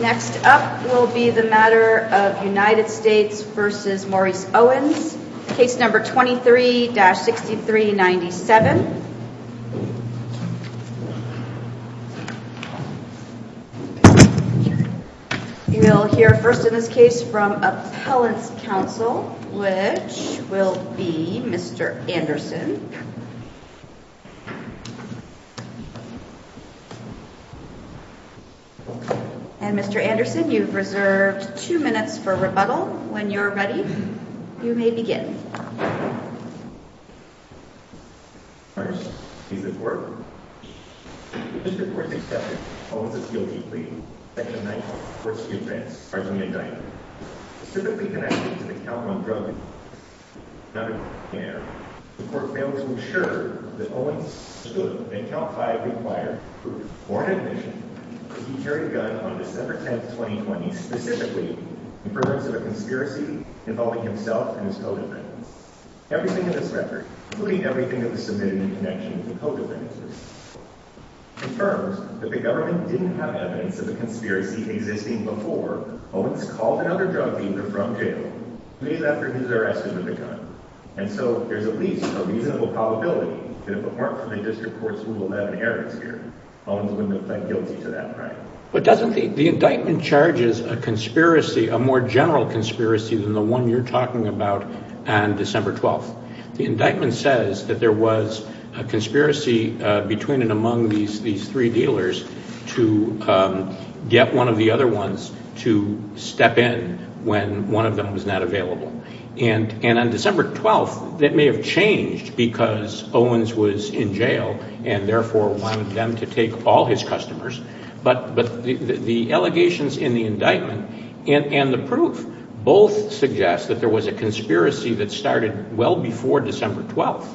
Next up will be the matter of United States v. Maurice Owens, case number 23-6397. You will hear first in this case from Appellants Counsel, which will be Mr. Anderson. And Mr. Anderson, you've reserved two minutes for rebuttal. When you're ready, you may begin. First is the court. Mr. 467, Owens' guilty plea, section 94, first offense, arson and indictment. Specifically connected to the count on drugs. The court failed to ensure that Owens stood in count 5 required for foreign admission as he carried a gun on December 10, 2020, specifically in the presence of a conspiracy involving himself and his co-defendants. Everything in this record, including everything that was submitted in connection with the co-defendants, confirms that the government didn't have evidence of a conspiracy existing before Owens called another drug dealer from jail days after he was arrested with a gun. And so there's at least a reasonable probability that apart from a district court's rule of non-inheritance here, Owens wouldn't have pled guilty to that crime. But doesn't the the indictment charges a conspiracy, a more general conspiracy, than the one you're talking about on December 12th? The indictment says that there was a conspiracy between and among these these three dealers to get one of the other ones to step in when one of them was not available. And on December 12th, that may have changed because Owens was in jail and therefore wanted them to take all his customers. But the allegations in the indictment and the proof both suggest that there was a conspiracy that started well before December 12th.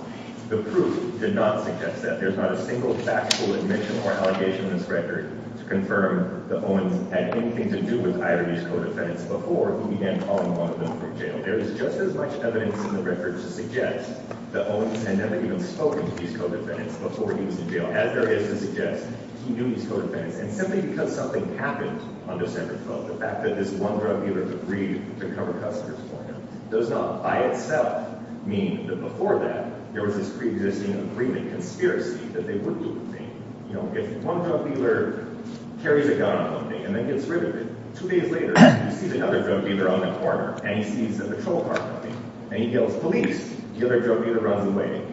The proof did not suggest that. There's not a single factual admission or allegation in this record to confirm that Owens had anything to do with either of these co-defendants before he began calling one of them from jail. There is just as much evidence in the record to suggest that Owens had never even spoken to these co-defendants before he was in jail. As there is to suggest, he knew these co-defendants. And simply because something happened on December 12th, the fact that this one drug dealer agreed to cover customers for him does not by itself mean that before that there was this pre-existing agreement, conspiracy, that they would do the thing. You know, if one drug dealer carries a gun on one day and then gets rid of it, two days later he sees another drug dealer on the corner and he sees the patrol car coming and he yells, police! The other drug dealer runs away.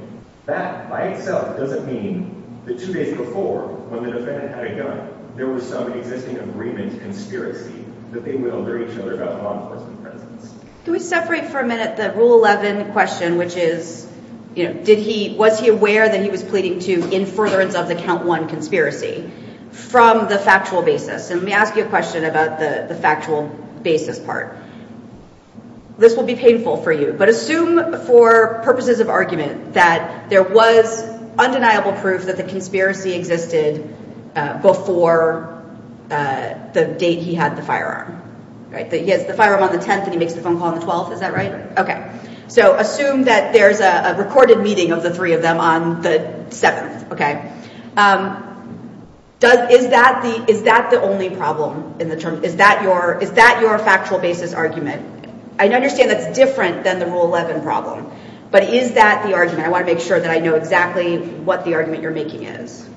That by itself doesn't mean that two days before, when the defendant had a gun, there was some existing agreement, conspiracy, that they would alert each other about law enforcement presence. Can we separate for a minute the Rule 11 question, which is, you know, did he, was he aware that he was pleading to in furtherance of the count one conspiracy from the factual basis? And let me ask you a question about the the factual basis part. This will be painful for you, but assume for purposes of argument that there was undeniable proof that the conspiracy existed before the date he had the firearm, right? That he has the firearm on the 10th and he makes the phone call on the 12th, is that right? Okay, so assume that there's a recorded meeting of the three of them on the 7th, okay? Does, is that the, is that the only I understand that's different than the Rule 11 problem, but is that the argument? I want to make sure that I know exactly what the argument you're making is.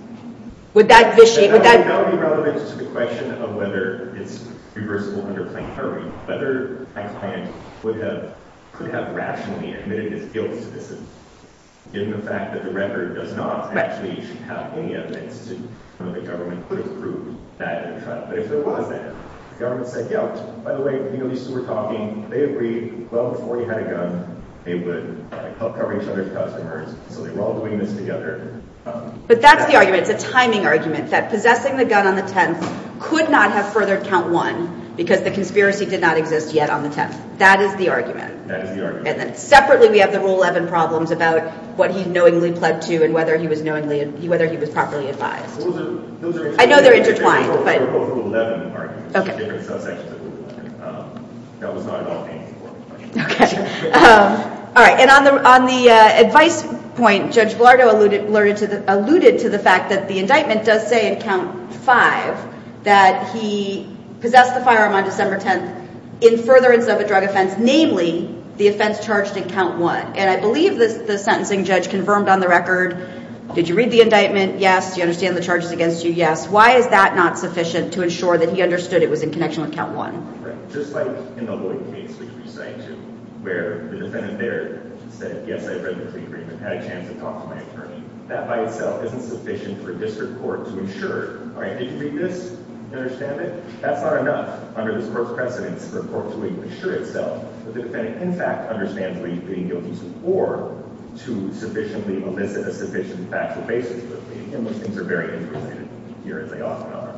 Would that, would that be relevant to the question of whether it's reversible under plain harming, whether a client would have, could have rationally admitted his guilt to this, given the fact that the record does not actually should have any evidence to, that the government could have proved that in the trial. But if there agreed well before he had a gun, they would help cover each other's customers. So they're all doing this together. But that's the argument, it's a timing argument, that possessing the gun on the 10th could not have furthered count one because the conspiracy did not exist yet on the 10th. That is the argument. That is the argument. And then separately we have the Rule 11 problems about what he knowingly pled to and whether he was knowingly, whether he was properly advised. I know they're intertwined. All right. And on the, on the advice point, Judge Bilardo alluded to the fact that the indictment does say in count five that he possessed the firearm on December 10th in furtherance of a drug offense, namely the offense charged in count one. And I believe this, the yes. Why is that not sufficient to ensure that he understood it was in connection with count one? They often are.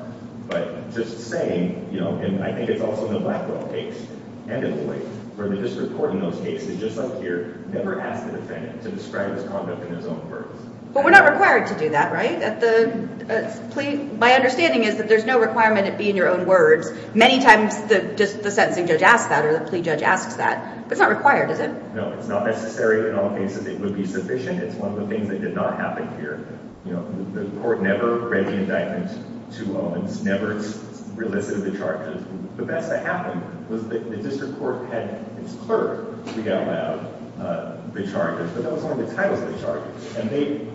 But just saying, you know, and I think it's also in the Blackwell case and in the way where the district court in those cases, just up here, never asked the defendant to describe his conduct in his own words. But we're not required to do that, right? At the plea, my understanding is that there's no requirement to be in your own words. Many times the, just the sentencing judge asks that or the plea judge asks that. It's not required, is it? No, it's not necessary. In all cases, it would be sufficient. It's one of the things that did not happen here. You know, the court never read the indictment to Owens, never relicited the charges. The best that happened was that the district court had its clerk read out loud the charges, but that was one of the titles of the charges. And they,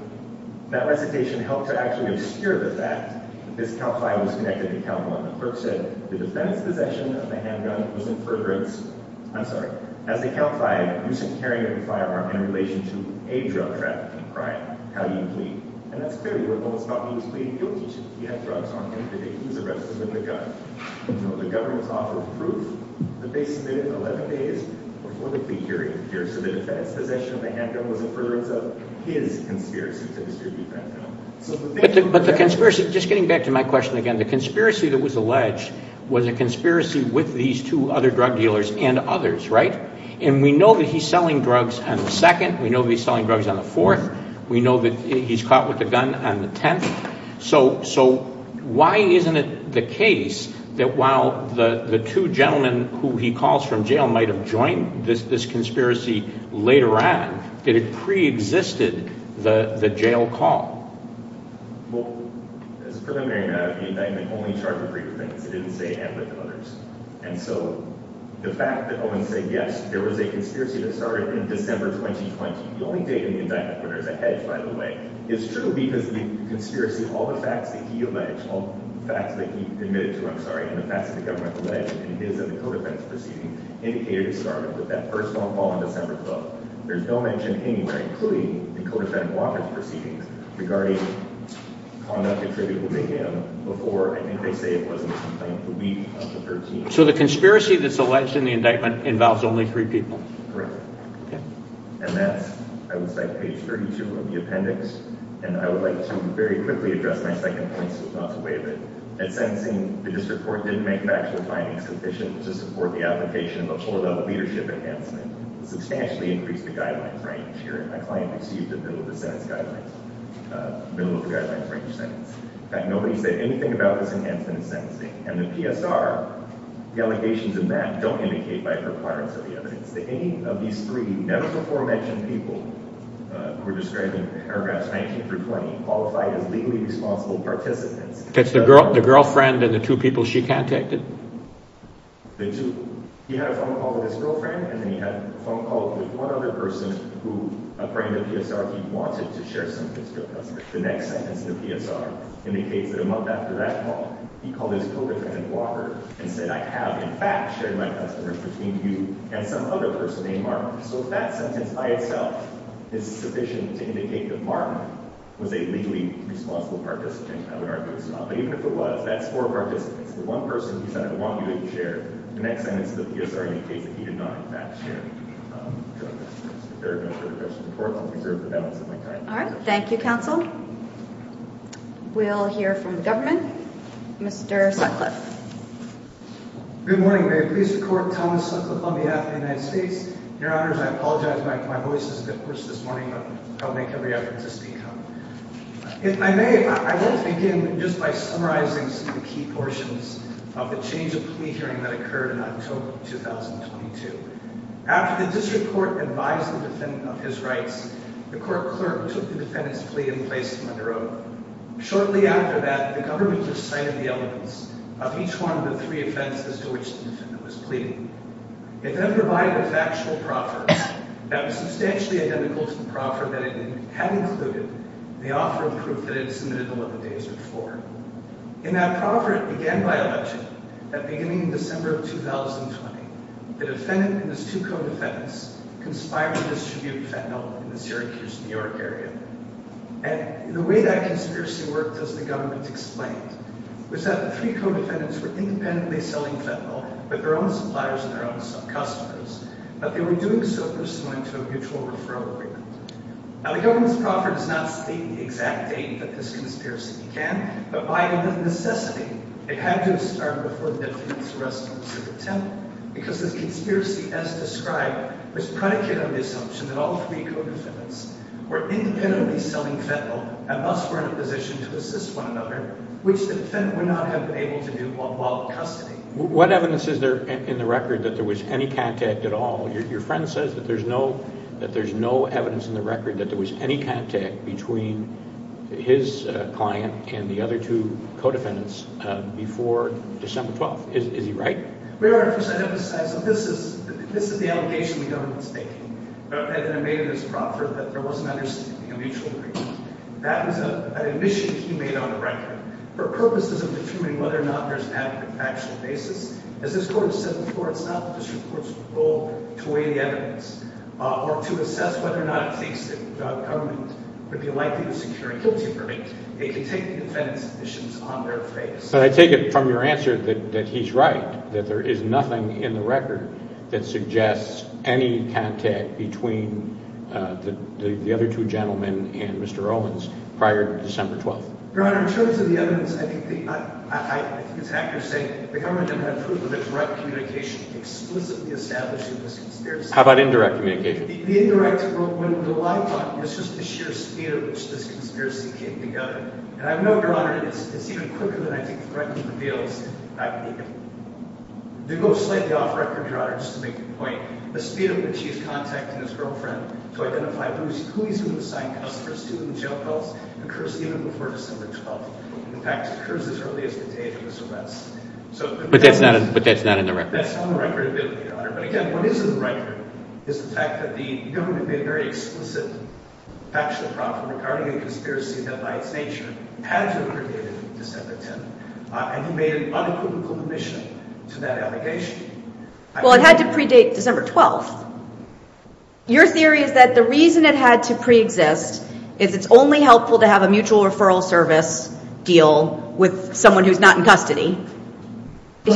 that recitation helped to actually obscure the fact that this count five was connected to count one. The clerk said the defendant's possession of the handgun was in furtherance, I'm sorry, as a count five, use of carrying a firearm in relation to a drug trafficking crime. How do you plead? And that's clearly what Owens thought he was pleading guilty to. He had drugs on him. He was arrested with a gun. The government's offer of proof that they submitted in 11 days before the plea hearing appears to the defense, possession of the handgun was in furtherance of his conspiracy to distribute the handgun. But the conspiracy, just getting back to my question again, the conspiracy that was alleged was a conspiracy with these two other drug dealers and others, right? And we know that he's selling drugs on the second. We know he's selling drugs on the fourth. We know that he's caught with a gun on the 10th. So, so why isn't it the case that while the, the two gentlemen who he calls from jail might've joined this, this conspiracy later on, it had pre-existed the, the jail call? Well, as a preliminary matter, the indictment only charged the three defendants. It didn't say anything to others. And so the fact that Owens said, yes, there was a conspiracy that started in December, 2020, the only date in the indictment where there's a hedge, by the way, it's true because the conspiracy, all the facts that he alleged, all the facts that he admitted to, I'm sorry, and the facts that the government alleged in his and the codefendant's proceedings indicated it started with that first phone call on December 12th. There's no mention anywhere, including the codefendant Walker's proceedings regarding conduct attributable to him before, I think they say it was in the complaint, the week of the 13th. So the conspiracy that's alleged in the indictment involves only three people. Correct. And that's, I would say page 32 of the appendix. And I would like to very quickly address my second point so as not to waive it. At sentencing, the district court didn't make maximum findings sufficient to support the application of a full-level leadership enhancement. Substantially increased the guidelines range here. My client exceeded the bill of the sentence guidelines, uh, bill of the guidelines range sentence. In fact, nobody said anything about this enhancement in sentencing. And the PSR, the allegations in that don't indicate by requirements of the evidence that any of these three never before mentioned people who are describing paragraphs 19 through 20 qualified as legally responsible participants. It's the girl, the girlfriend and the two people she contacted? The two, he had a phone call with his girlfriend and then he had a phone call with one other person who, according to the PSR, he wanted to share sentences with her. The next sentence in the PSR indicates that a month after that call, he called his co-worker and said, I have in fact shared my customers between you and some other person named Marvin. So if that sentence by itself is sufficient to indicate that Marvin was a legally responsible participant, I would argue it's not. But even if it was, that's four participants. The one person he said I want you to share, the next sentence of the PSR indicates that he did not in fact share. All right. Thank you, counsel. We'll hear from the government. Mr. Sutcliffe. Good morning. May it please the court, Thomas Sutcliffe on behalf of the United States. Your honors, I apologize. My voice is a bit hoarse this morning, but I'll make every effort to speak up. If I may, I want to begin just by summarizing some of the key portions of the change of plea hearing that occurred in October of 2022. After the district court advised the defendant of his rights, the court clerk took the defendant's plea and placed him under oath. Shortly after that, the government recited the elements of each one of the three offenses to which the defendant was pleading. It then provided a factual proffer that was substantially identical to the proffer that it had included in the offer of proof that it had submitted 11 days before. In that proffer, it began by election that beginning in December of 2020, the defendant and his two co-defendants conspired to distribute fentanyl in the Syracuse, New York area. And the way that conspiracy worked, as the government explained, was that the three co-defendants were independently selling fentanyl with their own suppliers and their own sub-customers, but they were doing so pursuant to a mutual referral agreement. Now, the government's proffer does not state the exact date that this conspiracy began, but by necessity, it had to have started before the defendant's arrest went to the temple, because this conspiracy, as described, was predicated on the assumption that all three co-defendants were independently selling fentanyl and thus were in a position to assist one another, which the defendant would not have been able to do while in custody. What evidence is there in the record that there was any contact at all? Your friend says that there's no evidence in the record that there was any contact between his client and the other two co-defendants before December 12th. Is he right? Mayor, first I have to emphasize that this is the allegation we don't mistake. And I made it as a proffer that there was an understanding of a mutual agreement. That was an admission he made on the record for purposes of determining whether or not there's an actual basis. As this court has said before, it's not the district court's goal to weigh the government would be likely to secure a guilty verdict. They can take the defendant's admissions on their face. But I take it from your answer that he's right, that there is nothing in the record that suggests any contact between the other two gentlemen and Mr. Owens prior to December 12th. Your Honor, in terms of the evidence, I think it's accurate to say the government didn't have proof of the direct communication explicitly established in this conspiracy. How about indirect communication? The indirect, the live talk was just the sheer speed at which this conspiracy came together. And I know, Your Honor, it's even quicker than I think the record reveals. To go slightly off record, Your Honor, just to make a point, the speed at which he is contacting his girlfriend to identify who he's going to sign custody and jail bills occurs even before December 12th. In fact, it occurs as early as the day of his arrest. But that's not in the record? That's not in the record, Your Honor. But again, what is in the record is the fact that the government made a very explicit factual prompt regarding a conspiracy that by its nature had to have predated December 10th. And he made an unequivocal admission to that allegation. Well, it had to predate December 12th. Your theory is that the reason it had to pre-exist is it's only helpful to have a mutual referral service deal with someone who's not in custody. Or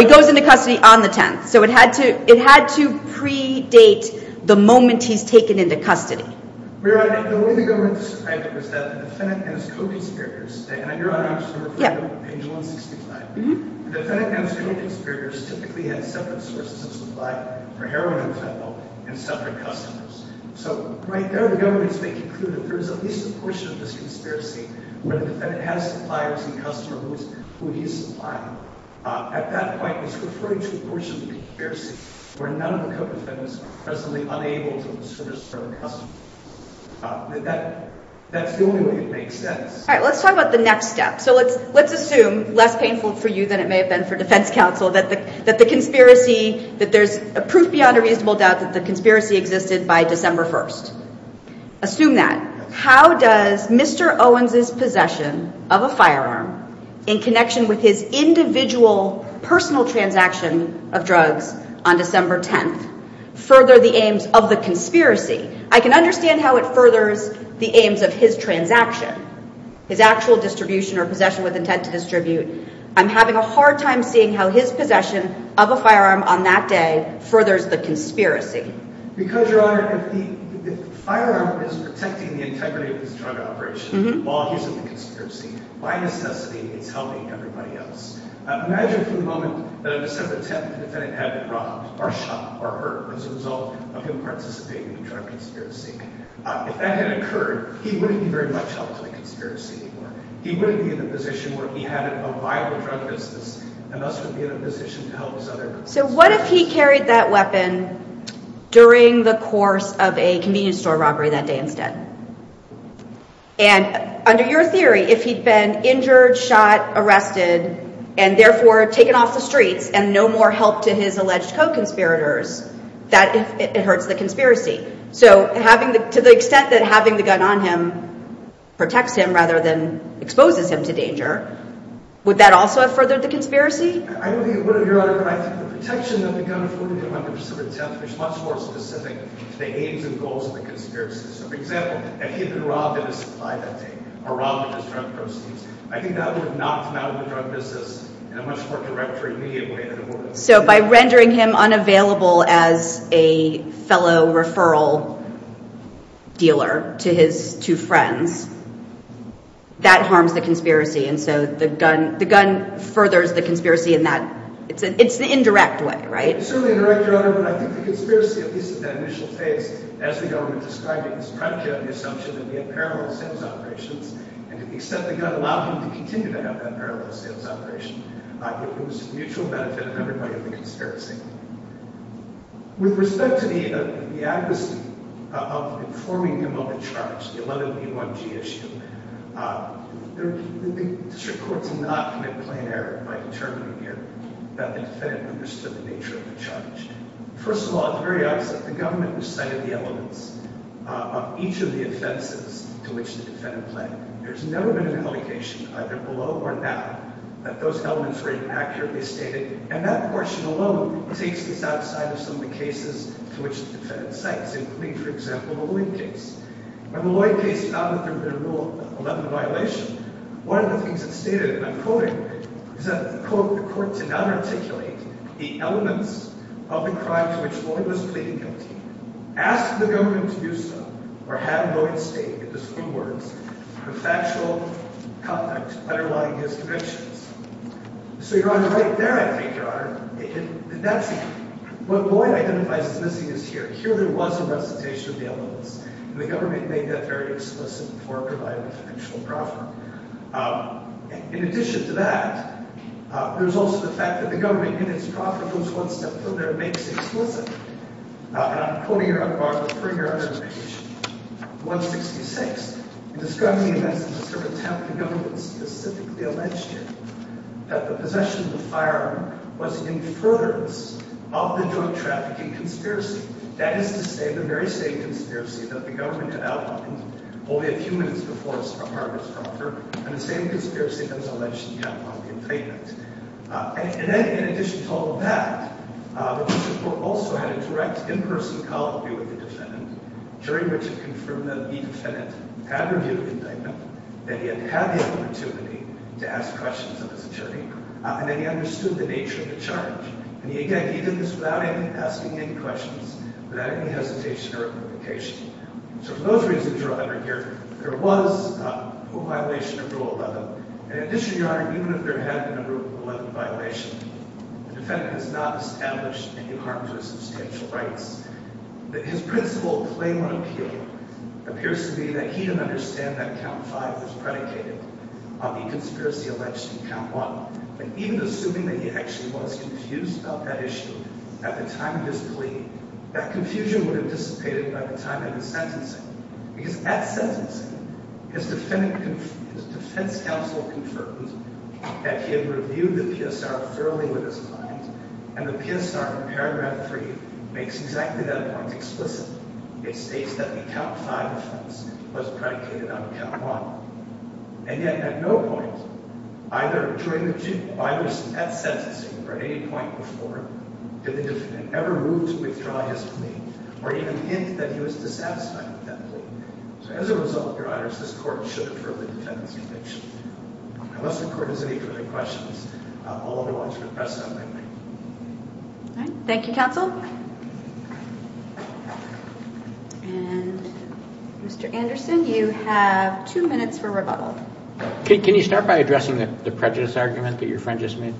he goes into custody on the 10th. So it had to predate the moment he's taken into custody. Your Honor, the way the government described it was that the defendant and his co-conspirators, and Your Honor, I'm just going to refer to page 165, the defendant and his co-conspirators typically had separate sources of supply for heroin and fentanyl and separate customers. So right there, the government's making clear there is at least a portion of this conspiracy where the defendant has suppliers and customers who he's supplying. At that point, it's referring to a portion of the conspiracy where none of the co-defendants are presently unable to service their customers. That's the only way it makes sense. All right, let's talk about the next step. So let's assume, less painful for you than it may have been for defense counsel, that the conspiracy, that there's proof beyond a reasonable doubt that the conspiracy existed by December 1st. Assume that. How does Mr. Owens' possession of a firearm in connection with his individual personal transaction of drugs on December 10th further the aims of the conspiracy? I can understand how it furthers the aims of his transaction, his actual distribution or possession with intent to distribute. I'm having a hard time seeing how his possession of a firearm on that day furthers the conspiracy. Because, Your Honor, the firearm is protecting the integrity of his drug operation while he's in the conspiracy. By necessity, it's helping everybody else. Imagine for a moment that on December 10th, the defendant had been robbed or shot or hurt as a result of him participating in a drug conspiracy. If that had occurred, he wouldn't be very much held to the conspiracy anymore. He wouldn't be in the position where he had a viable drug business and thus would be in a position to help his other... So what if he carried that weapon during the course of a convenience store robbery that day instead? And under your theory, if he'd been injured, shot, arrested, and therefore taken off the streets and no more help to his alleged co-conspirators, that it hurts the conspiracy. So having the, to the extent that having the gun on him protects him rather than exposes him to danger, would that also have furthered the conspiracy? I don't think it would, Your Honor, but I think the protection that the gun has given him on December 10th is much more specific to the aims and goals of the conspiracy. So for example, if he'd been robbed at a supply that day or robbed at his drug proceeds, I think that would have knocked him out of the drug business in a much more direct or immediate way than it would have. So by rendering him unavailable as a fellow referral dealer to his two friends, that harms the conspiracy. And so the gun, the gun furthers the conspiracy in that, it's an, it's the indirect way, right? It's certainly indirect, Your Honor, but I think the conspiracy, at least at that initial phase, as the government described it, is primarily on the assumption that we have parallel sales operations. And to the extent the gun allowed him to continue to have that parallel sales operation, I think it was a mutual benefit of everybody in the conspiracy. With respect to the, the advocacy of informing him of the charge, the 11B1G issue, the district court did not commit plain error by determining here that the defendant understood the nature of the charge. First of all, it's very obvious that the government recited the elements of each of the offenses to which the defendant pled. There's elements very accurately stated, and that portion alone takes this outside of some of the cases to which the defendant cites, including, for example, the Lloyd case. When the Lloyd case found that there had been a Rule 11 violation, one of the things it stated, and I'm quoting it, is that, quote, the court did not articulate the elements of the crime to which Lloyd was pleading guilty. Ask the government to do so, or have Lloyd state, in his own words, the factual context underlying his convictions. So, Your Honor, right there, I think, Your Honor, that's what Lloyd identifies as missing is here. Here there was a recitation of the elements, and the government made that very explicit before providing the potential proffer. In addition to that, there's also the fact that the government, in its proffer, goes one step further and makes it explicit, and I'm quoting, Your Honor, for Your Honor's petition, 166, in describing the events of this sort of attempt, the government specifically alleged here that the possession of the firearm was in furtherance of the drug trafficking conspiracy. That is to say, the very same conspiracy that the government had outlined only a few minutes before its proffer was proffered, and the same conspiracy that was alleged in the California complaint. And then, in addition to all of that, the district court also had a direct, in-person colloquy with the defendant, during which it confirmed that the defendant had reviewed the indictment, that he had had the opportunity to ask questions of his attorney, and that he understood the nature of the charge. And, again, he did this without asking any questions, without any hesitation or implication. So, for those reasons, Your Honor, here, there was a violation of Rule 11. In addition, Your Honor, even if there had been a Rule 11 violation, the defendant has not established any harm to his substantial rights. That his principle claim on appeal appears to be that he didn't understand that Count 5 was predicated on the conspiracy alleged in Count 1. And even assuming that he actually was confused about that issue at the time of his plea, that confusion would have dissipated by the time of the sentencing. Because, at sentencing, his defense counsel confirmed that he had reviewed the PSR thoroughly with his mind, and the PSR in Paragraph 3 makes exactly that point explicit. It states that the Count 5 offense was predicated on Count 1. And yet, at no point, either during that sentencing, or at any point before, did the defendant ever move to withdraw his plea, or even hint that he was dissatisfied with that plea. So, as a result, Your Honor, this court should defer the defendant's conviction. Unless the court has any further questions, I'll move on to the press assembly. All right. Thank you, counsel. And, Mr. Anderson, you have two minutes for rebuttal. Can you start by addressing the prejudice argument that your friend just made?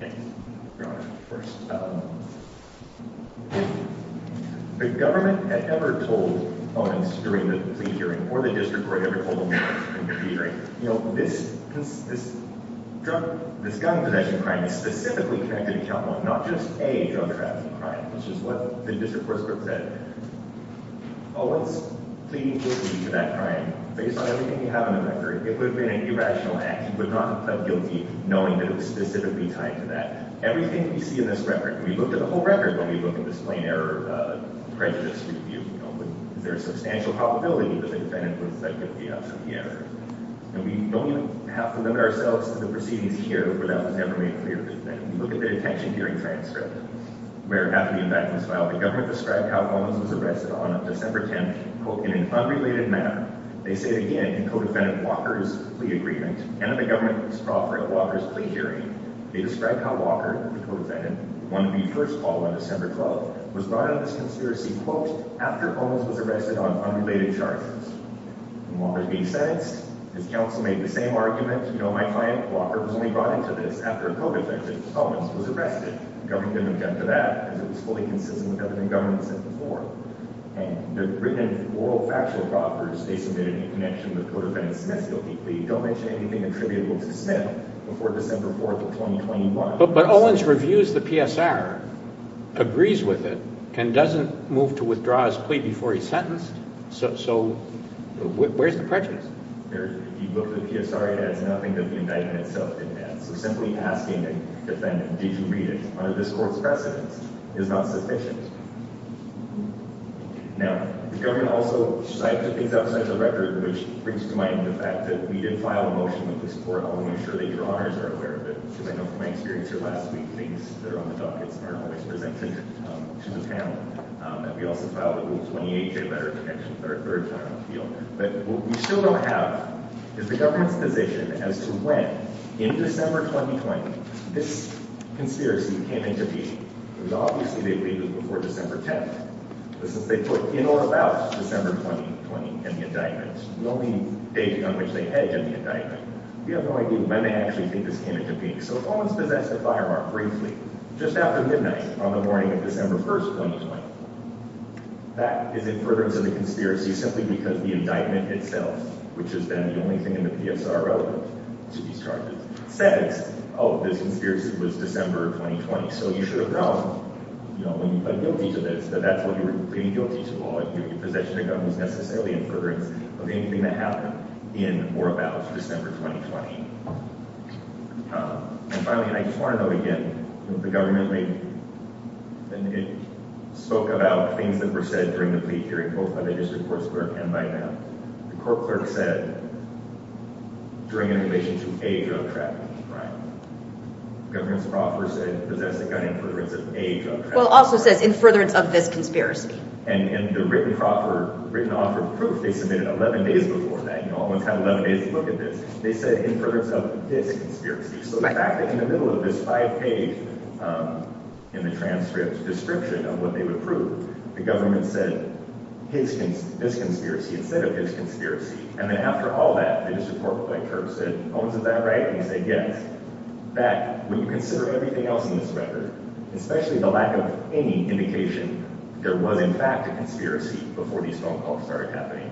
Thank you, Your Honor. First, the government had never told opponents during the plea hearing, or the district court had ever told them during the plea hearing, you know, this gun possession crime is specifically connected to Count 1, not just a drug trafficking crime. It's just what the district court's court said. Oh, let's plead guilty to that crime. Based on everything we have on the record, it would have been an irrational act. You would not have pled guilty knowing that it was specifically tied to that. Everything we see in this record, we looked at the whole record when we looked at this plain error prejudice review. You know, is there a substantial probability that the defendant was, like, guilty of some of the errors? And we don't even have to look at ourselves at the proceedings here, where that was never made clear to the defendant. We look at the detention hearing transcript, where, after the indictment was filed, the government described how Holmes was arrested on December 10th, quote, in an unrelated manner. They say, again, in co-defendant Walker's plea agreement, and in the government's proffer at Walker's plea hearing, they described how Walker, the co-defendant, wanted to be first called on December 12th, was brought on this conspiracy, quote, after Holmes was arrested on unrelated charges. When Walker's being sentenced, his counsel made the same argument, you know, my client, Walker, was only brought into this after co-defendant Holmes was arrested. The government didn't object to that, because it was fully consistent with government governance as before. And the written and oral factual proffers they submitted in connection with co-defendant Smith's guilty plea don't mention anything attributable to Smith before December 4th of 2021. But, but Owens reviews the PSR, agrees with it, and doesn't move to withdraw his plea before he's sentenced. So, so where's the prejudice? He looked at the PSR, he has nothing that the indictment itself didn't have. So simply asking defendant, did you read it, under this court's precedence, is not sufficient. Now, the government also cited things outside the record, which brings to mind the fact that we did file a motion that we support, only to ensure that your honors are aware of it, because I know from my experience here last week, things that are on the dockets aren't always presented to the panel. And we also filed a rule 28J letter in connection with our third final appeal. But what we still don't have is the government's position as to when, in December 2020, this conspiracy came into being. It was obviously, they believed it was before December 10th. But since they put in or about December 2020 in the indictment, the only date on which they had done the indictment, we have no idea when they actually think this came into being. So Owens possessed a firearm briefly, just after midnight on the morning of December 1st, 2020. That is in furtherance of the conspiracy, simply because the indictment itself, which is then the only thing in the PSR relevant to these charges, says, oh, this conspiracy was December 2020. So you should have known, you know, when you plead guilty to this, that that's what you were pleading guilty to all. Your possession of gun was necessarily in furtherance of anything that happened in or about December 2020. And finally, and I just want to note again, the government spoke about things that were said during the plea hearing both by the district clerk said during an evasion to age of trafficking, right? Governor Crawford said, possess the gun in furtherance of age of trafficking. Well, also says in furtherance of this conspiracy. And the written Crawford, written offer of proof, they submitted 11 days before that. You know, Owens had 11 days to look at this. They said in furtherance of this conspiracy. So the fact that in the middle of this five page, um, in the transcripts, description of what they would prove, the government said this conspiracy instead of this conspiracy. And then after all that, they just report by curse. And Owens is that right? And he said, yes. That when you consider everything else in this record, especially the lack of any indication, there was in fact a conspiracy before these phone calls started happening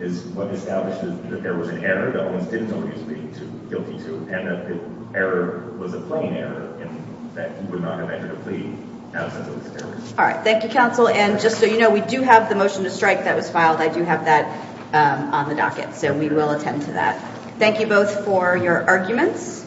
is what established that there was an error that Owens didn't know he was pleading guilty to, and that the error was a plain error in that he would not have entered a plea. All right. Thank you, counsel. And just so you know, we do have the motion to strike that was I do have that, um, on the docket. So we will attend to that. Thank you both for your arguments.